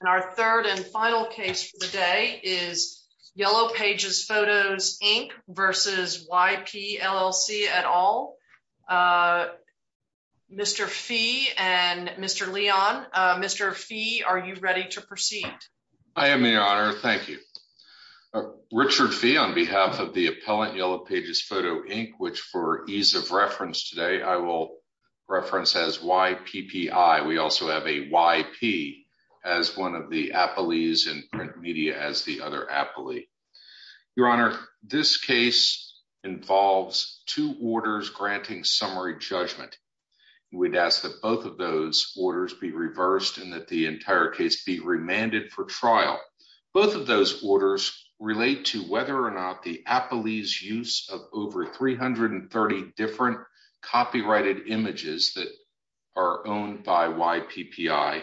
And our third and final case for the day is Yellow Pages Photos, Inc. v. YP, LLC, et al. Mr. Fee and Mr. Leon. Mr. Fee, are you ready to proceed? I am, Your Honor. Thank you. Richard Fee on behalf of the appellant, Yellow Pages Photo, Inc., which for ease of reference today, I will reference as YPPI. We also have a YP as one of the appellees and print media as the other appellee. Your Honor, this case involves two orders granting summary judgment. We'd ask that both of those orders be reversed and that the entire case be remanded for trial. Both of those copyrighted images that are owned by YPPI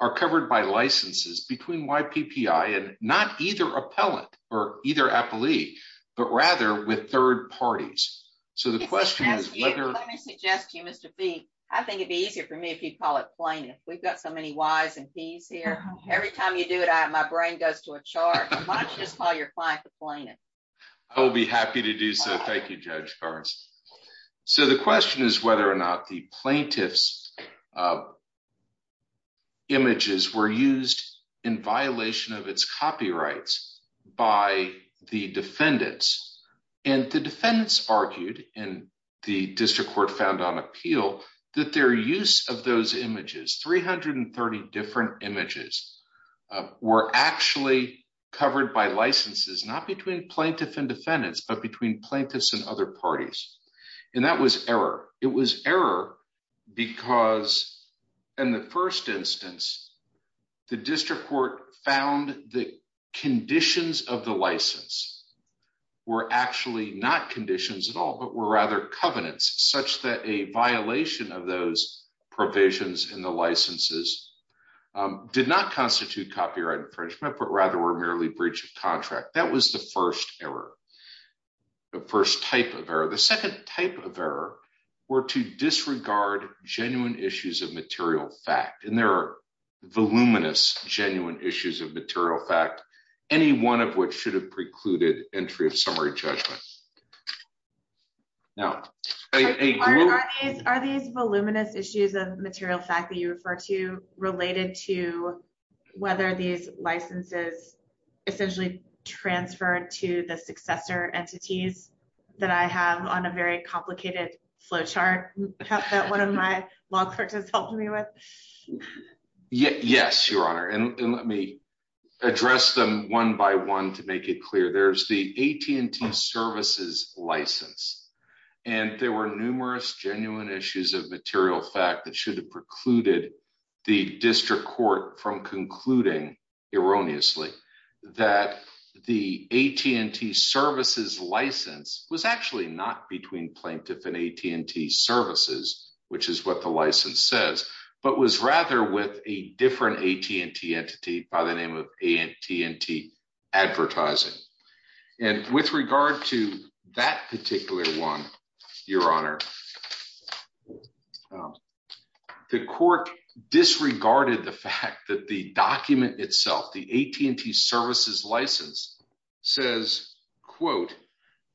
are covered by licenses between YPPI and not either appellant or either appellee, but rather with third parties. So the question is whether... Let me suggest to you, Mr. Fee, I think it'd be easier for me if you'd call it plaintiff. We've got so many Y's and P's here. Every time you do it, my brain goes to a chart. Why don't you just call your client the plaintiff? I will be happy to do so. Thank you, Judge Barnes. So the question is whether or not the plaintiff's images were used in violation of its copyrights by the defendants. And the defendants argued, and the district court found on appeal, that their use of those images, 330 different images, were actually covered by licenses, not between plaintiff and defendants, but between plaintiffs and other parties. And that was error. It was error because in the first instance, the district court found the conditions of the license were actually not conditions at all, but were rather covenants, such that a violation of those provisions in the licenses did not constitute copyright infringement, but rather were merely breach of contract. That was the first type of error. The second type of error were to disregard genuine issues of material fact. And there are voluminous genuine issues of material fact, any one of which should have precluded entry of summary judgment. Are these voluminous issues of material fact that you refer to related to whether these licenses essentially transferred to the successor entities that I have on a very complicated flow chart that one of my law clerks has helped me with? Yes, Your Honor. And let me address them one by one to make it clear. There's the AT&T services license. And there were numerous genuine issues of material fact that should have precluded the district court from concluding, erroneously, that the AT&T services license was actually not between plaintiff and AT&T services, which is what the license says, but was rather with a different AT&T entity by name of AT&T advertising. And with regard to that particular one, Your Honor, the court disregarded the fact that the document itself, the AT&T services license, says, quote,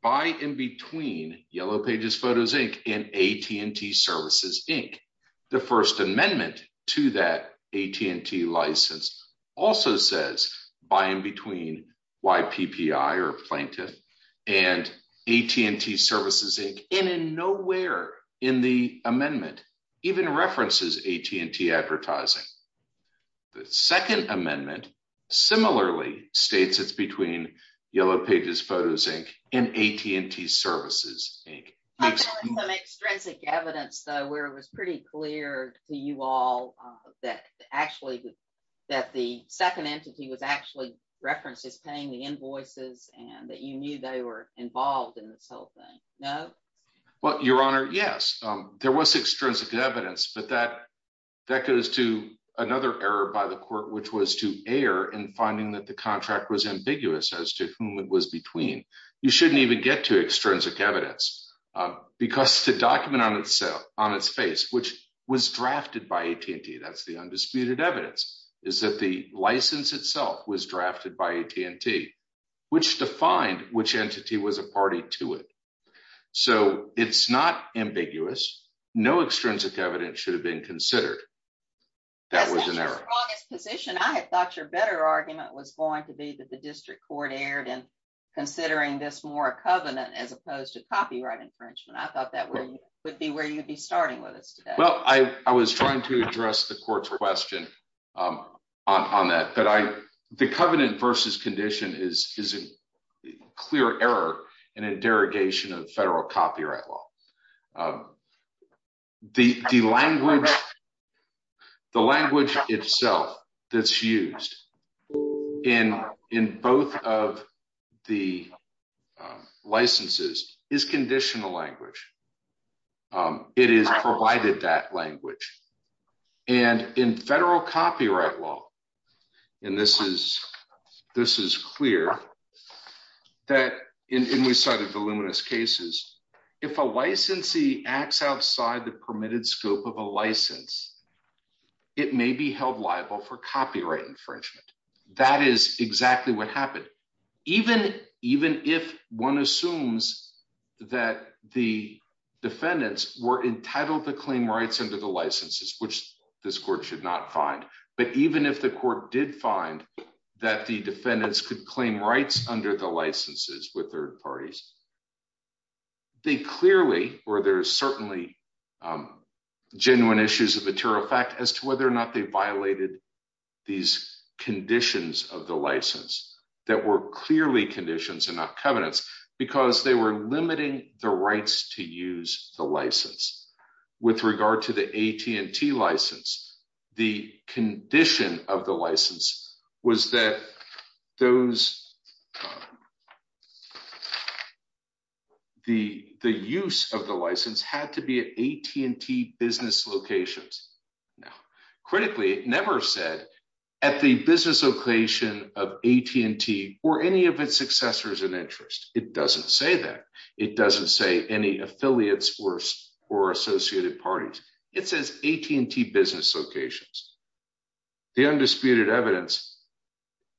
by in between Yellow Pages Photos, Inc. and AT&T services, Inc. The first amendment to that AT&T license also says, by in between YPPI or plaintiff and AT&T services, Inc. And in nowhere in the amendment even references AT&T advertising. The second amendment similarly states it's between Yellow Pages Photos, Inc. and AT&T services, Inc. I found some extrinsic evidence, though, where it was pretty clear to you all that actually that the second entity was actually referenced as paying the invoices and that you knew they were involved in this whole thing. No? Well, Your Honor, yes, there was extrinsic evidence, but that goes to another error by the court, which was to err in finding that the contract was ambiguous as to whom it was between. You shouldn't even get to extrinsic evidence because the document on itself, on its face, which was drafted by AT&T, that's the undisputed evidence, is that the license itself was drafted by AT&T, which defined which entity was a party to it. So it's not ambiguous. No extrinsic evidence should have been considered. That was an error. That's not your strongest position. I had district court erred in considering this more a covenant as opposed to copyright infringement. I thought that would be where you'd be starting with us today. Well, I was trying to address the court's question on that, but the covenant versus condition is a clear error in a both of the licenses is conditional language. It is provided that language. And in federal copyright law, and this is clear, that in we cited voluminous cases, if a licensee acts outside the permitted scope of a license, it may be held liable for copyright infringement. That is exactly what happened. Even if one assumes that the defendants were entitled to claim rights under the licenses, which this court should not find, but even if the court did find that the defendants could claim rights under the licenses with third parties, they clearly, or there's certainly genuine issues of material fact as to whether or not they violated these conditions of the license that were clearly conditions and not covenants because they were limiting the rights to use the license. With regard to the AT&T license, the condition of the license was that those, the use of the license had to be AT&T business locations. Now, critically, it never said at the business location of AT&T or any of its successors in interest. It doesn't say that. It doesn't say any affiliates or associated parties. It says AT&T business locations. The undisputed evidence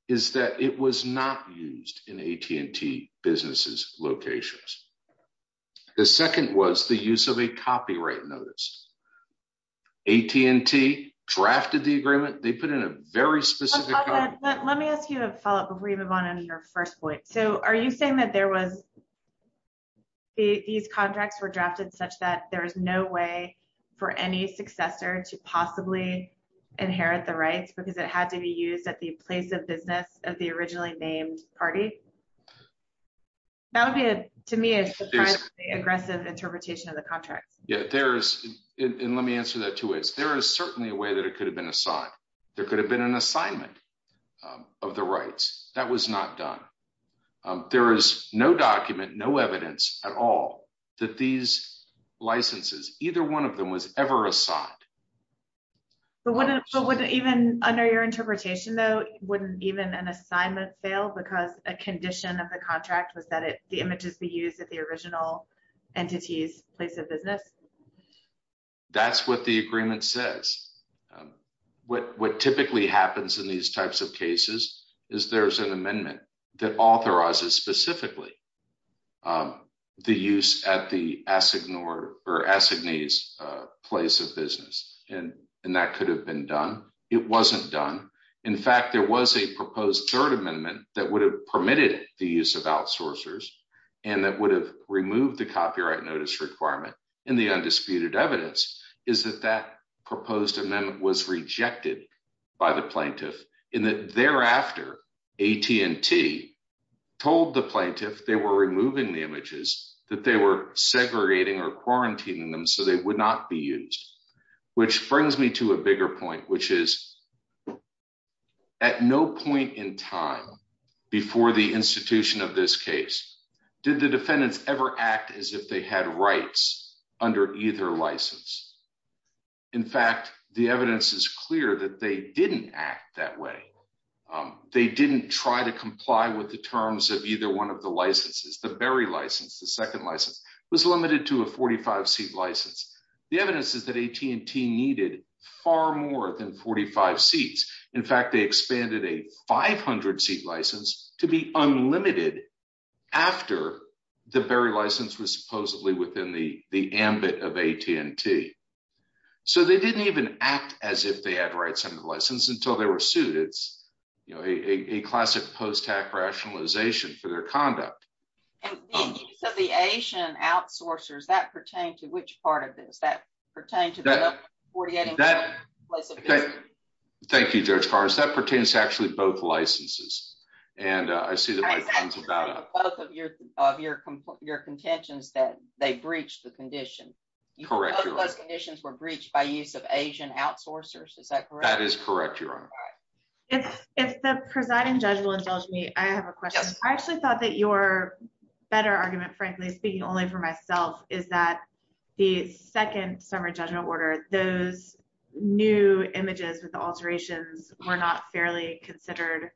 is that it was not used in AT&T businesses locations. The second was the use of a copyright notice. AT&T drafted the agreement. They put in a very specific. Let me ask you a follow-up before you move on to your first point. So are you saying that there was, these contracts were drafted such that there is no way for any successor to possibly inherit the rights because it had to be used at the place of business of the originally named party? That would be, to me, a surprisingly aggressive interpretation of the contracts. Yeah, there is, and let me answer that two ways. There is certainly a way that it could have been assigned. There could have been an assignment of the rights. That was not done. There is no document, no evidence at all that these licenses, either one of them, was ever assigned. But wouldn't even under your interpretation, though, wouldn't even an assignment fail because a condition of the contract was that the images be used at the original entity's place of business? That's what the agreement says. What typically happens in these types of cases is there's an amendment that authorizes specifically the use at the assignee's place of business, and that could have been done. It wasn't done. In fact, there was a proposed third amendment that would have permitted the use of outsourcers and that would have removed the copyright notice requirement and the undisputed evidence is that that proposed amendment was rejected by the plaintiff and that thereafter AT&T told the plaintiff they were removing the images that they were segregating or quarantining them so they would not be used, which brings me to a bigger point, which is at no point in time before the institution of this case did the defendants ever act as if they had rights under either license. In fact, the evidence is clear that they didn't act that way. They didn't try to comply with the terms of either one of the licenses. The Berry license, the second license, was limited to a 45-seat license. The evidence is that AT&T needed far more than 45 seats. In fact, they expanded a 500-seat license to be unlimited after the Berry license was supposedly within the ambit of AT&T. So they didn't even act as they had rights under the license until they were sued. It's, you know, a classic post-hack rationalization for their conduct. And the use of the Asian outsourcers, that pertained to which part of this? That pertained to the 48-seat license? Thank you, Judge Carson. That pertains to actually both licenses and I see that my time's about up. Both of your contentions that they breached the condition. Both of those conditions were breached by use of Asian outsourcers. Is that correct? That is correct, Your Honor. If the presiding judge will indulge me, I have a question. I actually thought that your better argument, frankly, speaking only for myself, is that the second summer judgment order, those new images with the alterations were not fairly considered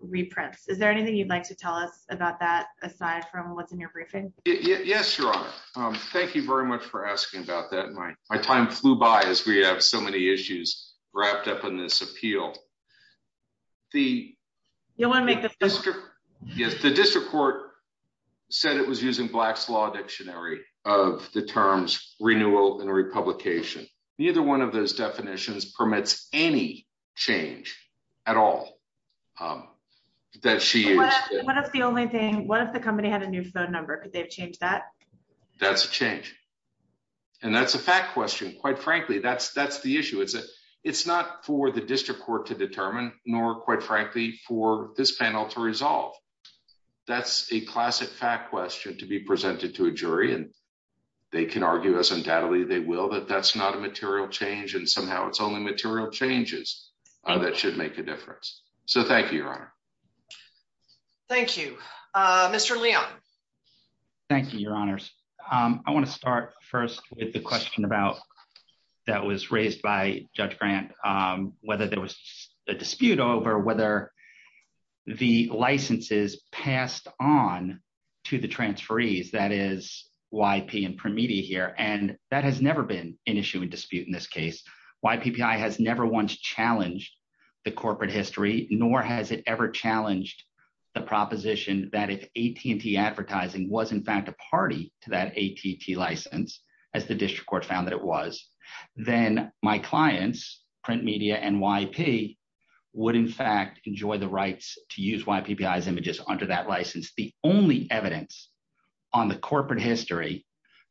reprints. Is there anything you'd like to tell us about that aside from what's in your briefing? Yes, Your Honor. Thank you very much for asking about that. My time flew by as we have so many issues wrapped up in this appeal. The district court said it was using Black's Law Dictionary of the terms renewal and republication. Neither one of those definitions permits any change at all that she used. What if the company had a new phone number? Could they have changed that? That's a change and that's a fact question. Quite frankly, that's the issue. It's not for the district court to determine nor, quite frankly, for this panel to resolve. That's a classic fact question to be presented to a jury and they can argue as undoubtedly they will that that's not a material change and somehow it's only material changes that should make a difference. Thank you, Your Honor. Thank you. Mr. Leon. Thank you, Your Honors. I want to start first with the question that was raised by Judge Grant, whether there was a dispute over whether the licenses passed on to the transferees, that is, YP and Print Media here, and that has never been an issue and dispute in this case. YPPI has never once challenged the corporate history nor has it ever challenged the proposition that if AT&T Advertising was in fact a party to that AT&T as the district court found that it was, then my clients, Print Media and YP, would in fact enjoy the rights to use YPPI's images under that license. The only evidence on the corporate history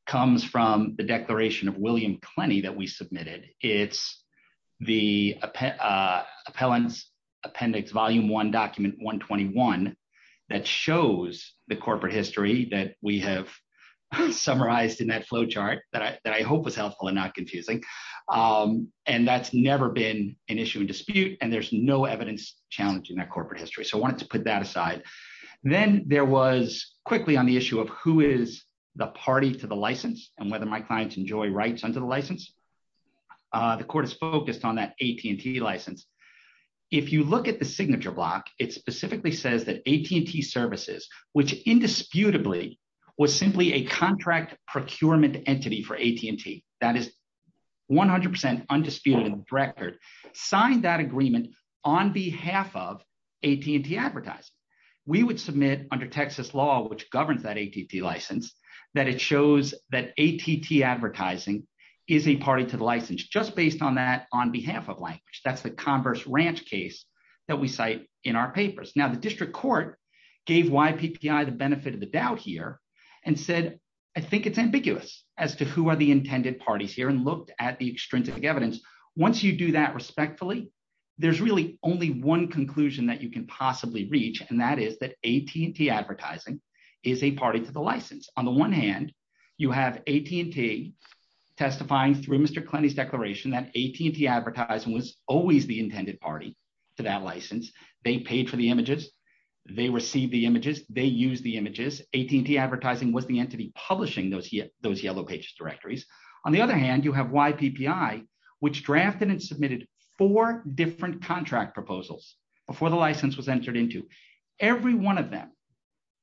comes from the declaration of William Klenny that we submitted. It's the Appellant's Appendix Volume 1, Document 121 that shows the corporate history that we have summarized in that flow chart that I hope was helpful and not confusing, and that's never been an issue and dispute, and there's no evidence challenging that corporate history, so I wanted to put that aside. Then there was quickly on the issue of who is the party to the license and whether my clients enjoy rights under the license. The court is focused on that AT&T license. If you look at the signature block, it specifically says that AT&T Services, which indisputably was simply a contract procurement entity for AT&T, that is 100% undisputed in the record, signed that agreement on behalf of AT&T Advertising. We would submit under Texas law, which governs that AT&T license, that it shows that AT&T Advertising is a party to the license just based on that on behalf of language. That's the converse ranch case that we cite in our papers. Now the district court gave YPPI the benefit of the doubt here and said, I think it's ambiguous as to who are the intended parties here, and looked at the extrinsic evidence. Once you do that respectfully, there's really only one conclusion that you can possibly reach, and that is that AT&T Advertising is a party to the license. On the one hand, you have AT&T testifying through Mr. Klenny's declaration that AT&T was always the intended party to that license. They paid for the images. They received the images. They used the images. AT&T Advertising was the entity publishing those yellow pages directories. On the other hand, you have YPPI, which drafted and submitted four different contract proposals before the license was entered into. Every one of them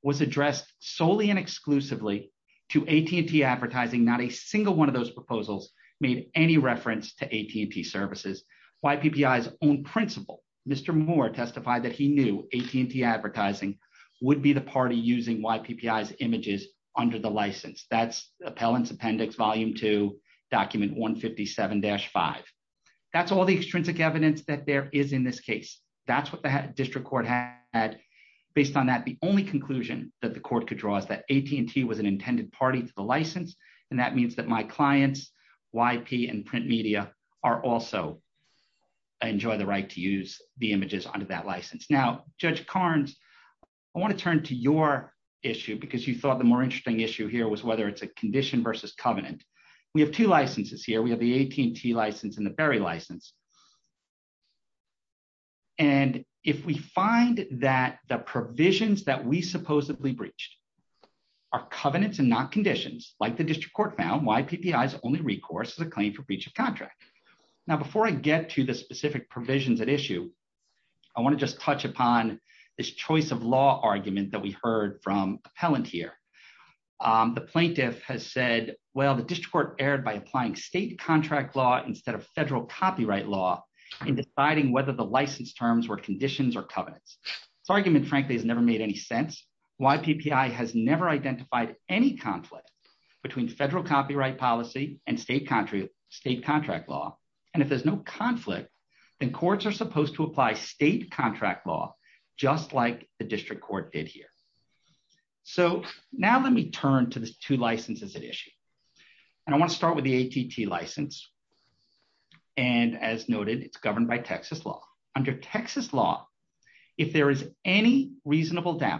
was addressed solely and exclusively to AT&T Advertising. Not a single one of those proposals made any reference to AT&T Services. YPPI's own principal, Mr. Moore, testified that he knew AT&T Advertising would be the party using YPPI's images under the license. That's Appellants Appendix Volume 2, Document 157-5. That's all the extrinsic evidence that there is in this case. That's what the district court had. Based on that, the only conclusion that the court could draw is that AT&T was an intended party to the license. That means that my clients, YP and Print Media, also enjoy the right to use the images under that license. Now, Judge Carnes, I want to turn to your issue because you thought the more interesting issue here was whether it's a condition versus covenant. We have two licenses here. We have the AT&T license and the Berry license. If we find that the provisions that we supposedly breached are covenants and not conditions, like the district court found, YPPI's only recourse is a claim for breach of contract. Now, before I get to the specific provisions at issue, I want to just touch upon this choice of law argument that we heard from Appellant here. The plaintiff has said, well, the district court erred by applying state contract law instead of federal copyright law in deciding whether the license terms were conditions or covenants. This argument, frankly, has never made any sense. YPPI has never identified any conflict between federal copyright policy and state contract law. If there's no conflict, then courts are supposed to apply state contract law, just like the district court did here. Now, let me turn to the two licenses at issue. I want to start with the AT&T license. And as noted, it's governed by Texas law. Under Texas law, if there is any reasonable way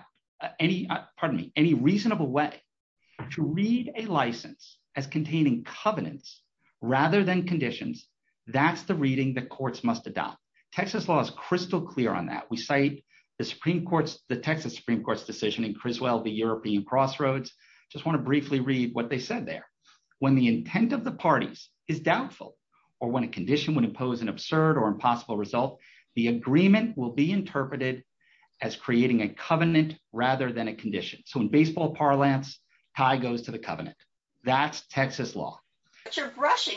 to read a license as containing covenants rather than conditions, that's the reading that courts must adopt. Texas law is crystal clear on that. We cite the Texas Supreme Court's decision in Criswell v. European Crossroads. I just want to briefly read what they said there. When the intent of the parties is doubtful or when a condition would impose an absurd or impossible result, the agreement will be interpreted as creating a covenant rather than a condition. So in baseball parlance, tie goes to the covenant. That's Texas law. But you're brushing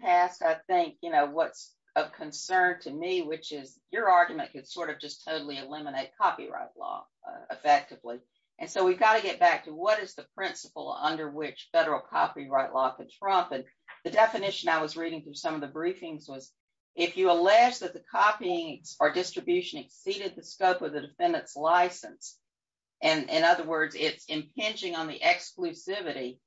past, I think, what's of concern to me, which is your argument could sort of just totally eliminate copyright law effectively. And so we've got to get back to what is the principle under which federal copyright law could trump. And the definition I was reading through some of the briefings was, if you allege that the copying or distribution exceeded the scope of the defendant's license, and in other words, it's impinging on the exclusivity,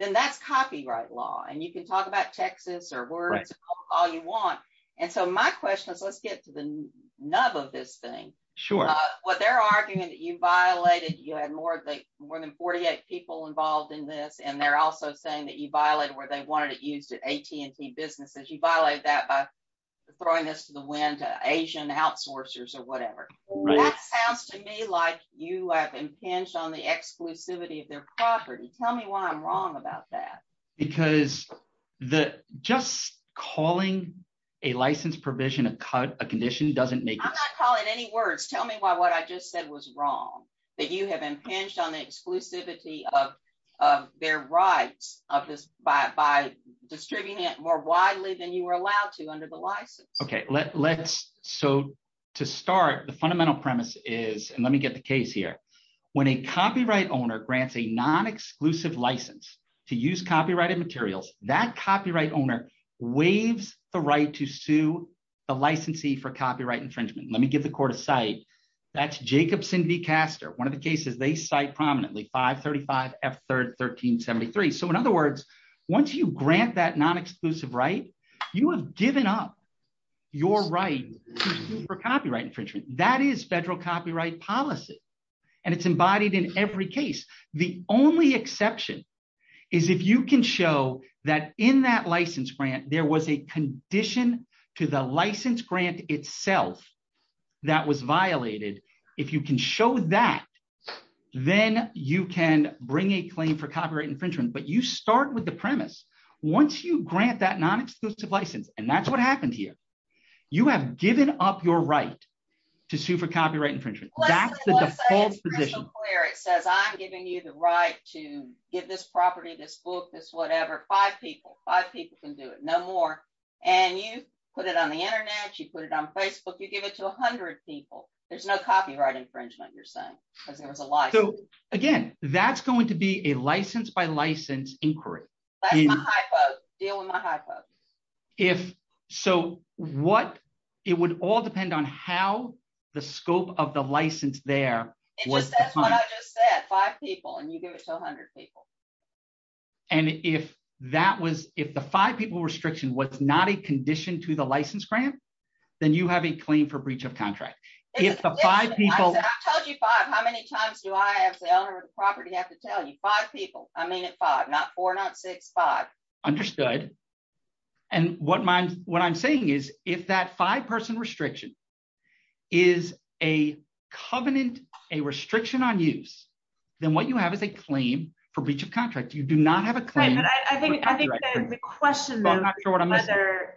then that's copyright law. And you can talk about Texas or where it's all you want. And so my question is, let's get to the nub of this thing. What they're arguing that you violated, you had more than 48 people involved in this. And they're also saying that you violated where they wanted it used at AT&T businesses. You violated that by throwing this to the wind, Asian outsourcers or whatever. That sounds to me like you have impinged on the exclusivity of their property. Tell me why I'm wrong about that. Because just calling a license provision a condition doesn't make it. I'm not calling any words. Tell me why what I just said was wrong, that you have impinged on the exclusivity of their rights of this by distributing it more widely than you were allowed to under the license. Okay, let's so to start the fundamental premise is and let me get the case here. When a copyright owner grants a non exclusive license to use copyrighted materials, that copyright owner waives the right to sue the licensee for copyright One of the cases they cite prominently 535 F third 1373. So in other words, once you grant that non exclusive, right, you have given up your right for copyright infringement, that is federal copyright policy. And it's embodied in every case, the only exception is if you can show that in that license grant, there was a condition to the license grant itself, that was violated. If you can show that, then you can bring a claim for copyright infringement. But you start with the premise. Once you grant that non exclusive license, and that's what happened here. You have given up your right to sue for copyright infringement. It says I'm giving you the right to get this property, this book, this whatever five people, five people can do it no more. And you put it on the internet, you put it on Facebook, you give it to 100 people, there's no copyright infringement, you're saying, because there was a lot. So again, that's going to be a license by license inquiry. If so, what it would all depend on how the scope of the license there was five people and you give it to 100 people. And if that was if the five people restriction was not a condition to the license grant, then you have a claim for breach of contract. If the five people told you five, how many times do I as the owner of the property have to tell you five people? I mean, it's not four, not six, five. Understood. And what my what I'm saying is, if that five person restriction is a covenant, a restriction on use, then what you have is a claim for breach of contract, you do not have a I think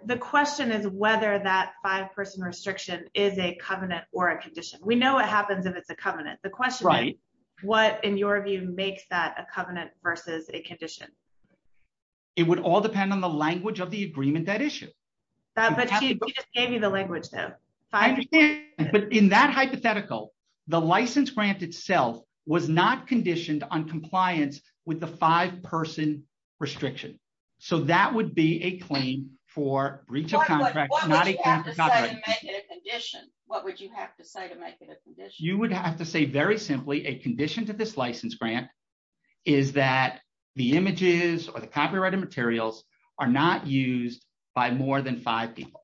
the question is whether that five person restriction is a covenant or a condition. We know what happens if it's a covenant. The question is, what in your view makes that a covenant versus a condition? It would all depend on the language of the agreement that issue. But she just gave you the language though. But in that hypothetical, the license grant itself was not conditioned on compliance with the five person restriction. So that would be a claim for breach of contract. What would you have to say to make it a condition? You would have to say very simply a condition to this license grant is that the images or the copyrighted materials are not used by more than five people.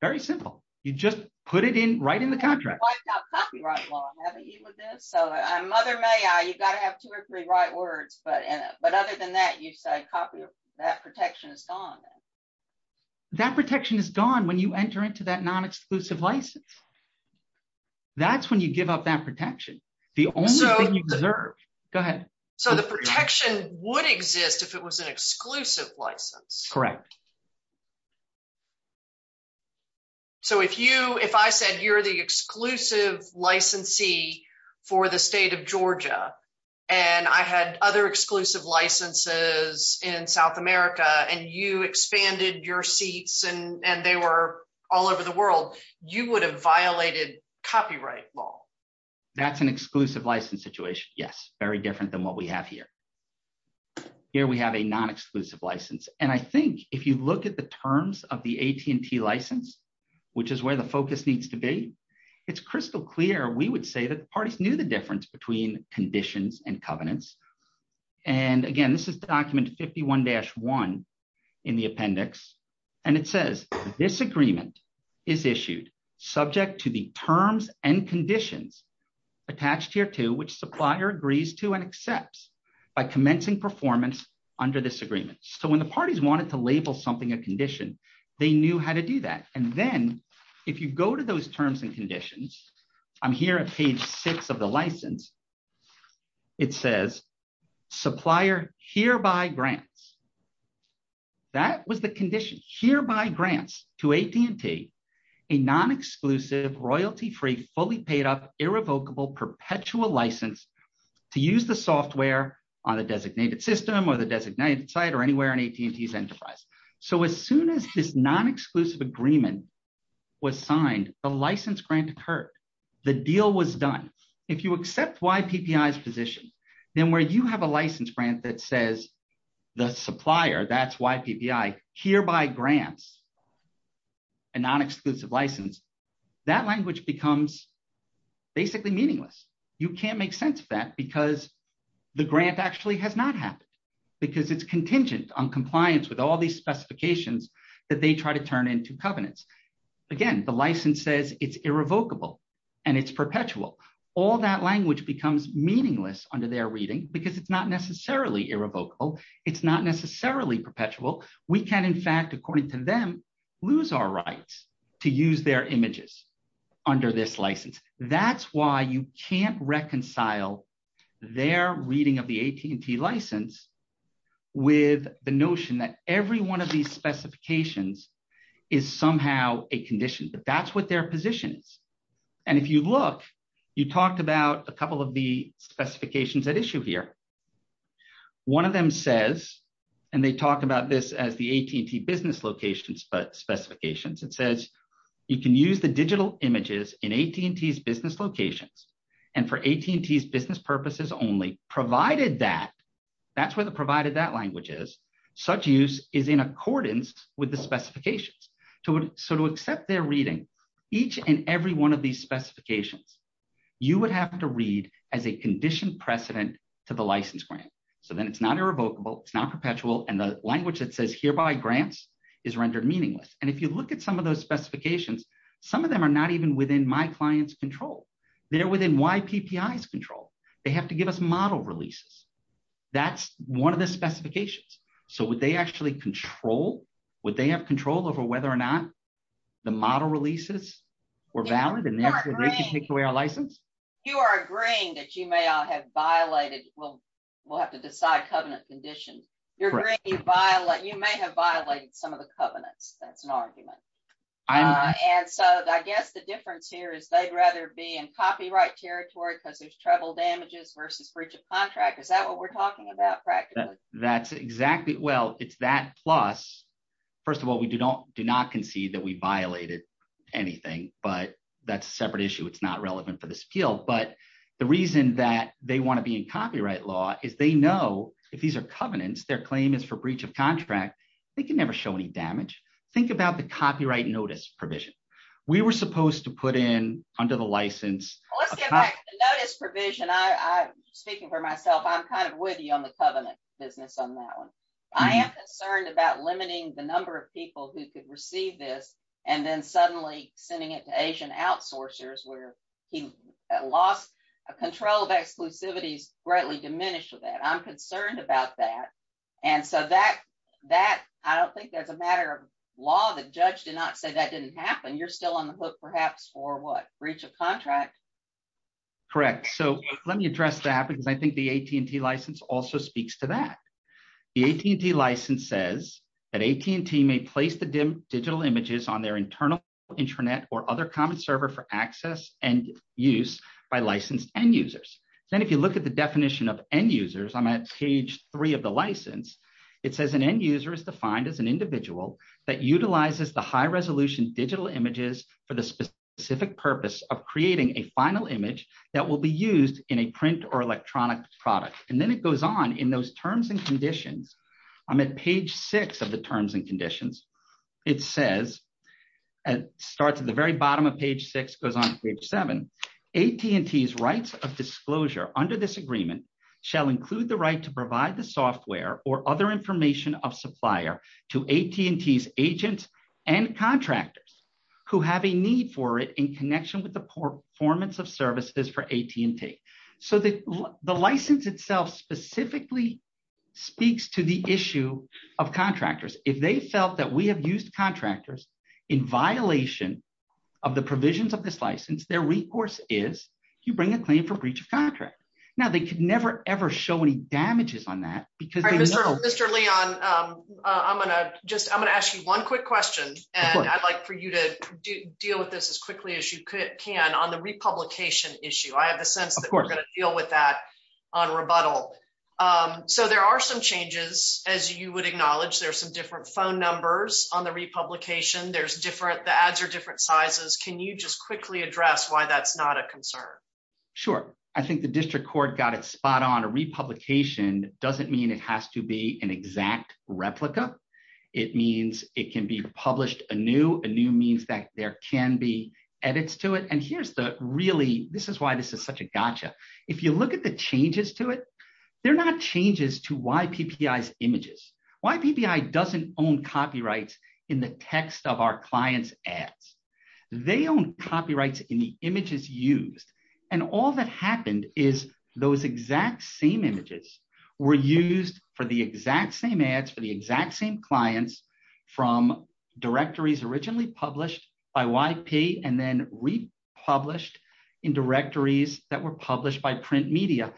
Very simple. You just put it in right in the contract. Wiped out copyright law, haven't you with this? Mother may I, you've got to have two or three right words. But other than that, you say that protection is gone. That protection is gone when you enter into that non-exclusive license. That's when you give up that protection. The only thing you deserve. Go ahead. So the protection would exist if it was an exclusive license. Correct. So if you, if I said you're the exclusive licensee for the state of Georgia and I had other exclusive licenses in South America and you expanded your seats and they were all over the world, you would have violated copyright law. That's an exclusive license situation. Yes. Very different than what we have here. Here we have a non-exclusive license. And I think if you look at the terms of the AT&T license, which is where the focus needs to be, it's crystal clear. We would say that the parties knew the difference between conditions and covenants. And again, this is document 51-1 in the appendix. And it says this agreement is issued subject to the terms and conditions attached here to which supplier agrees to and accepts by commencing performance under this agreement. So when the parties wanted to label something a condition, they knew how to do that. And then if you go to those terms and conditions, I'm here at page six of the license, it says supplier hereby grants. That was the condition hereby grants to AT&T, a non-exclusive royalty-free, fully paid up, irrevocable, perpetual license to use the software on the designated system or the designated site or anywhere in AT&T's enterprise. So as soon as this non-exclusive agreement was signed, the license grant occurred. The deal was done. If you accept YPPI's position, then where you have a license grant that says the supplier, that's YPPI, hereby grants a non-exclusive license, that language becomes basically meaningless. You can't make sense of that because the grant actually has not happened because it's contingent on compliance with all these specifications that they try to turn into covenants. Again, the license says it's irrevocable and it's perpetual. All that language becomes meaningless under their reading because it's not necessarily irrevocable. It's not necessarily perpetual. We can, in fact, according to them, lose our rights to use their images under this license. That's why you can't reconcile their reading of the AT&T license with the notion that every one of these specifications is somehow a condition, but that's what their position is. And if you look, you talked about a couple of the specifications at issue here. One of them says, and they talk about this as the AT&T business locations, but specifications, it says you can use the digital images in AT&T's business locations. And for AT&T's business purposes only, provided that, that's where the provided that language is, such use is in accordance with the specifications. So to accept their reading, each and every one of these specifications, you would have to read as a conditioned precedent to the license grant. So then it's not irrevocable. It's not perpetual. And the language that says hereby grants is rendered meaningless. And if you look at some of those specifications, some of them are not even within my client's control. They're within YPPI's control. They have to give us model releases. That's one of the specifications. So would they actually control, would they have control over whether or not the model releases were valid and they could take away our license? You are agreeing that you may have violated, well, we'll have to decide covenant conditions. You're agreeing you violate, you may have violated some of the covenants. That's an argument. And so I guess the difference here is they'd rather be in copyright territory because there's travel damages versus breach of contract. Is that what we're talking about practically? That's exactly, well, it's that plus, first of all, we do not concede that we violated anything, but that's a separate issue. It's not relevant for this appeal. But the reason that they want to be in copyright law is they know if these are covenants, their claim is for breach of contract, they can never show any damage. Think about the copyright notice provision. We were supposed to put in under the license. Let's get back to the notice provision. I, speaking for myself, I'm kind of with you on the covenant business on that one. I am concerned about limiting the number of people who could receive this and then suddenly sending it to Asian outsourcers where he lost control of exclusivities greatly diminished with that. I'm concerned about that. And so that, I don't think that's a matter of law. The judge did not say that didn't happen. You're still on the hook perhaps for what? Breach of contract. Correct. So let me address that because I think the AT&T license also speaks to that. The AT&T license says that AT&T may place the digital images on their internal intranet or other common server for access and use by licensed end users. Then if you look at the definition of end users, I'm at page three of the license, it says an end user is defined as an individual that utilizes the high resolution digital images for the specific purpose of creating a final image that will be used in a print or electronic product. And then it goes on in those terms and conditions. I'm at page six of the terms and conditions. It says, it starts at the very bottom of page six, goes on page seven. AT&T's rights of disclosure under this agreement shall include the right to provide the software or other information of supplier to AT&T's agents and contractors who have a need for it in connection with the performance of services for AT&T. So the license itself specifically speaks to the issue of contractors. If they felt that we have used contractors in violation of the provisions of this license, their recourse is you bring a claim breach of contract. Now they could never, ever show any damages on that because- All right, Mr. Leon, I'm going to just, I'm going to ask you one quick question, and I'd like for you to deal with this as quickly as you can on the republication issue. I have the sense that we're going to deal with that on rebuttal. So there are some changes, as you would acknowledge, there are some different phone numbers on the republication. There's different, the ads are different sizes. Can you just quickly address why that's not a concern? Sure. I think the district court got it spot on. A republication doesn't mean it has to be an exact replica. It means it can be published anew. Anew means that there can be edits to it. And here's the really, this is why this is such a gotcha. If you look at the changes to it, they're not changes to YPPI's images. YPPI doesn't own copyrights in the text of our client's ads. They own copyrights in the images used. And all that happened is those exact same images were used for the exact same ads for the exact same clients from directories originally published by YP and then republished in directories that were published by print media.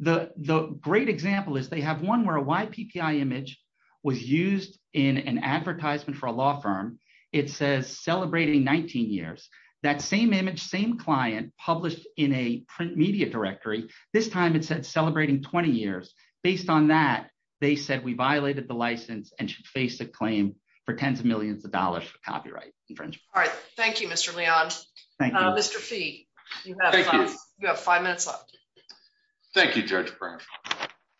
The great example is they have one where a YPPI image was used in an advertisement for a law firm. It says, celebrating 19 years. That same image, same client published in a print media directory. This time it said celebrating 20 years. Based on that, they said we violated the license and should face a claim for tens of millions of dollars for copyright infringement. All right. Thank you, Mr. Leon. Thank you. Mr. Fee, you have five minutes left. Thank you, Judge Brant.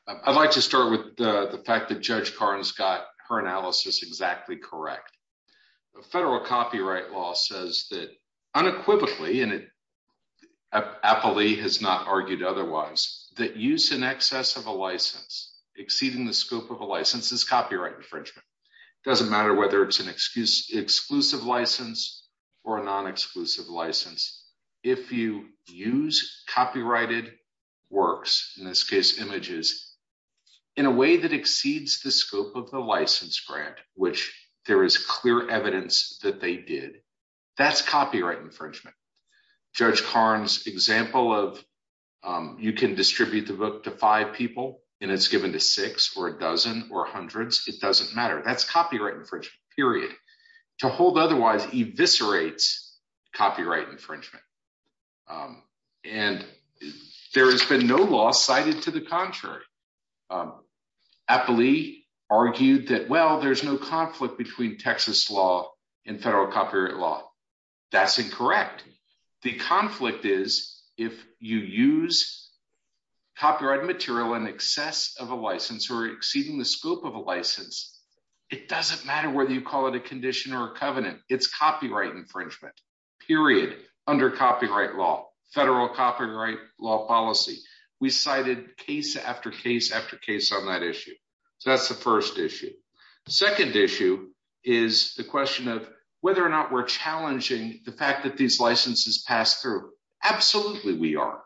I'd like start with the fact that Judge Karnes got her analysis exactly correct. The federal copyright law says that unequivocally, and Apolli has not argued otherwise, that use in excess of a license, exceeding the scope of a license, is copyright infringement. It doesn't matter whether it's an exclusive license or a non-exclusive license. If you use copyrighted works, in this case images, in a way that exceeds the scope of the license grant, which there is clear evidence that they did, that's copyright infringement. Judge Karnes' example of you can distribute the book to five people and it's given to six or a dozen or hundreds, it doesn't matter. That's copyright infringement, period. To hold otherwise eviscerates copyright infringement. There has been no law cited to the contrary. Apolli argued that, well, there's no conflict between Texas law and federal copyright law. That's incorrect. The conflict is if you use copyright material in excess of a license or exceeding the scope of a license, it doesn't matter whether you call it a condition or a covenant. It's copyright infringement, period, under copyright law, federal copyright law policy. We cited case after case after case on that issue. So that's the first issue. The second issue is the question of whether or not we're challenging the fact that these licenses pass through. Absolutely we are.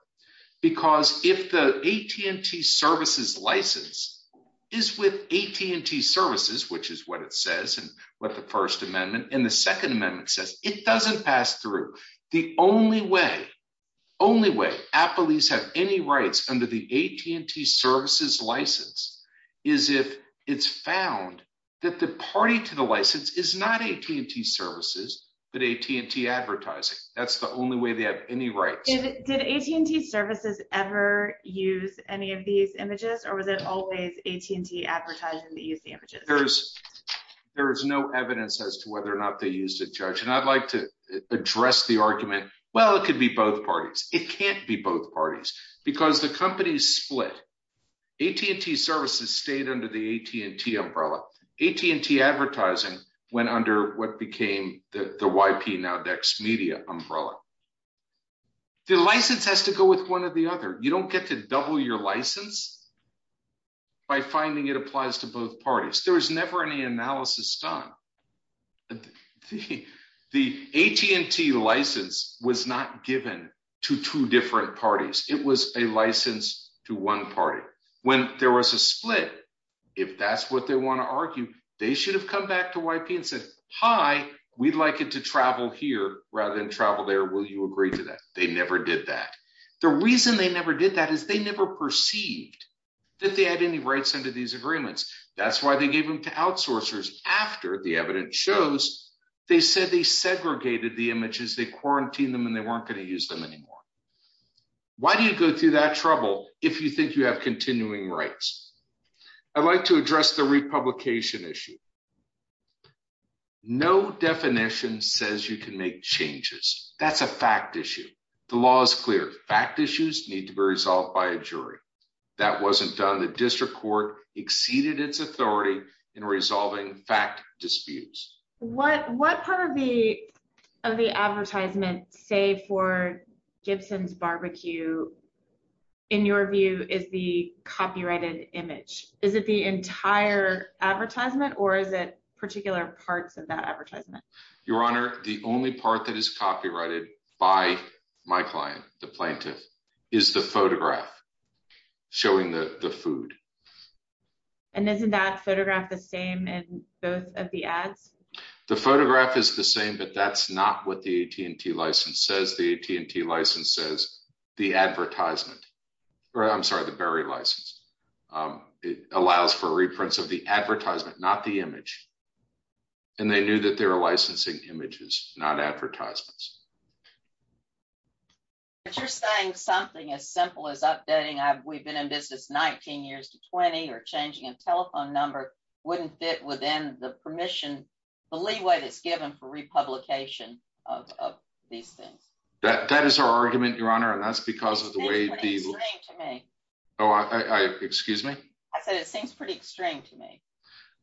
Because if the AT&T services license is with AT&T services, which is what it says and what the first amendment and the second passed through, the only way, only way, Apollis have any rights under the AT&T services license is if it's found that the party to the license is not AT&T services, but AT&T advertising. That's the only way they have any rights. Did AT&T services ever use any of these images or was it always AT&T advertising that used the images? There's no evidence as to whether or not they used it, Judge. And I'd like to address the argument, well, it could be both parties. It can't be both parties because the companies split. AT&T services stayed under the AT&T umbrella. AT&T advertising went under what became the YP now Dex Media umbrella. The license has to go with one or the other. You don't get to double your license by finding it applies to both parties. There was never any analysis done. The AT&T license was not given to two different parties. It was a license to one party. When there was a split, if that's what they want to argue, they should have come back to YP and said, hi, we'd like it to travel here rather than travel there. Will you agree to that? They never did that. The reason they never did that is they perceived that they had any rights under these agreements. That's why they gave them to outsourcers after the evidence shows they said they segregated the images, they quarantined them and they weren't going to use them anymore. Why do you go through that trouble if you think you have continuing rights? I'd like to address the republication issue. No definition says you can make changes. That's a fact issue. The law is clear. Fact issues need to be resolved by a jury. That wasn't done. The district court exceeded its authority in resolving fact disputes. What part of the of the advertisement say for Gibson's barbecue in your view is the copyrighted image? Is it the entire advertisement or is it particular parts of that advertisement? Your Honor, the only part that is copyrighted by my client, the plaintiff, is the photograph showing the the food. And isn't that photograph the same in both of the ads? The photograph is the same but that's not what the AT&T license says. The AT&T license says the advertisement or I'm sorry the Berry license. It allows for reprints of the advertisement not the image and they knew that they were licensing images not advertisements. But you're saying something as simple as updating. We've been in business 19 years to 20 or changing a telephone number wouldn't fit within the permission, the leeway that's given for republication of these things. That is our argument, Your Honor. And that's because of the way people. Oh, excuse me. I said it seems pretty extreme to me.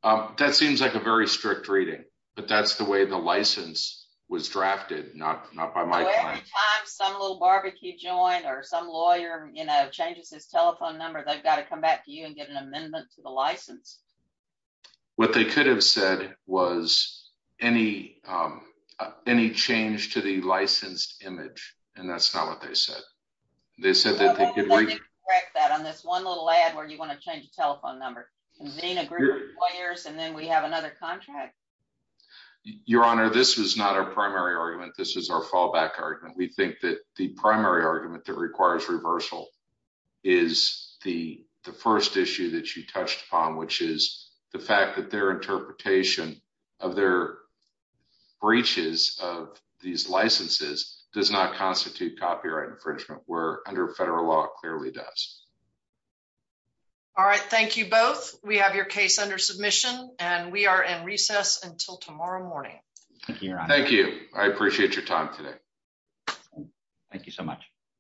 That seems like a very strict reading but that's the way the license was drafted. Not by my client. Every time some little barbecue joined or some lawyer, you know, changes his telephone number they've got to come back to you and get an amendment to the license. What they could have said was any change to the licensed image and that's not what they said. They said that they could correct that on this one little ad where you want to change the telephone number. Convene a group of lawyers and then we have another contract. Your Honor, this was not our primary argument. This is our fallback argument. We think that the primary argument that requires reversal is the first issue that you touched upon which is the fact that their interpretation of their breaches of these licenses does not constitute copyright infringement where under federal law clearly does. All right. Thank you both. We have your case under submission and we are in recess until tomorrow morning. Thank you. I appreciate your time today. Thank you so much.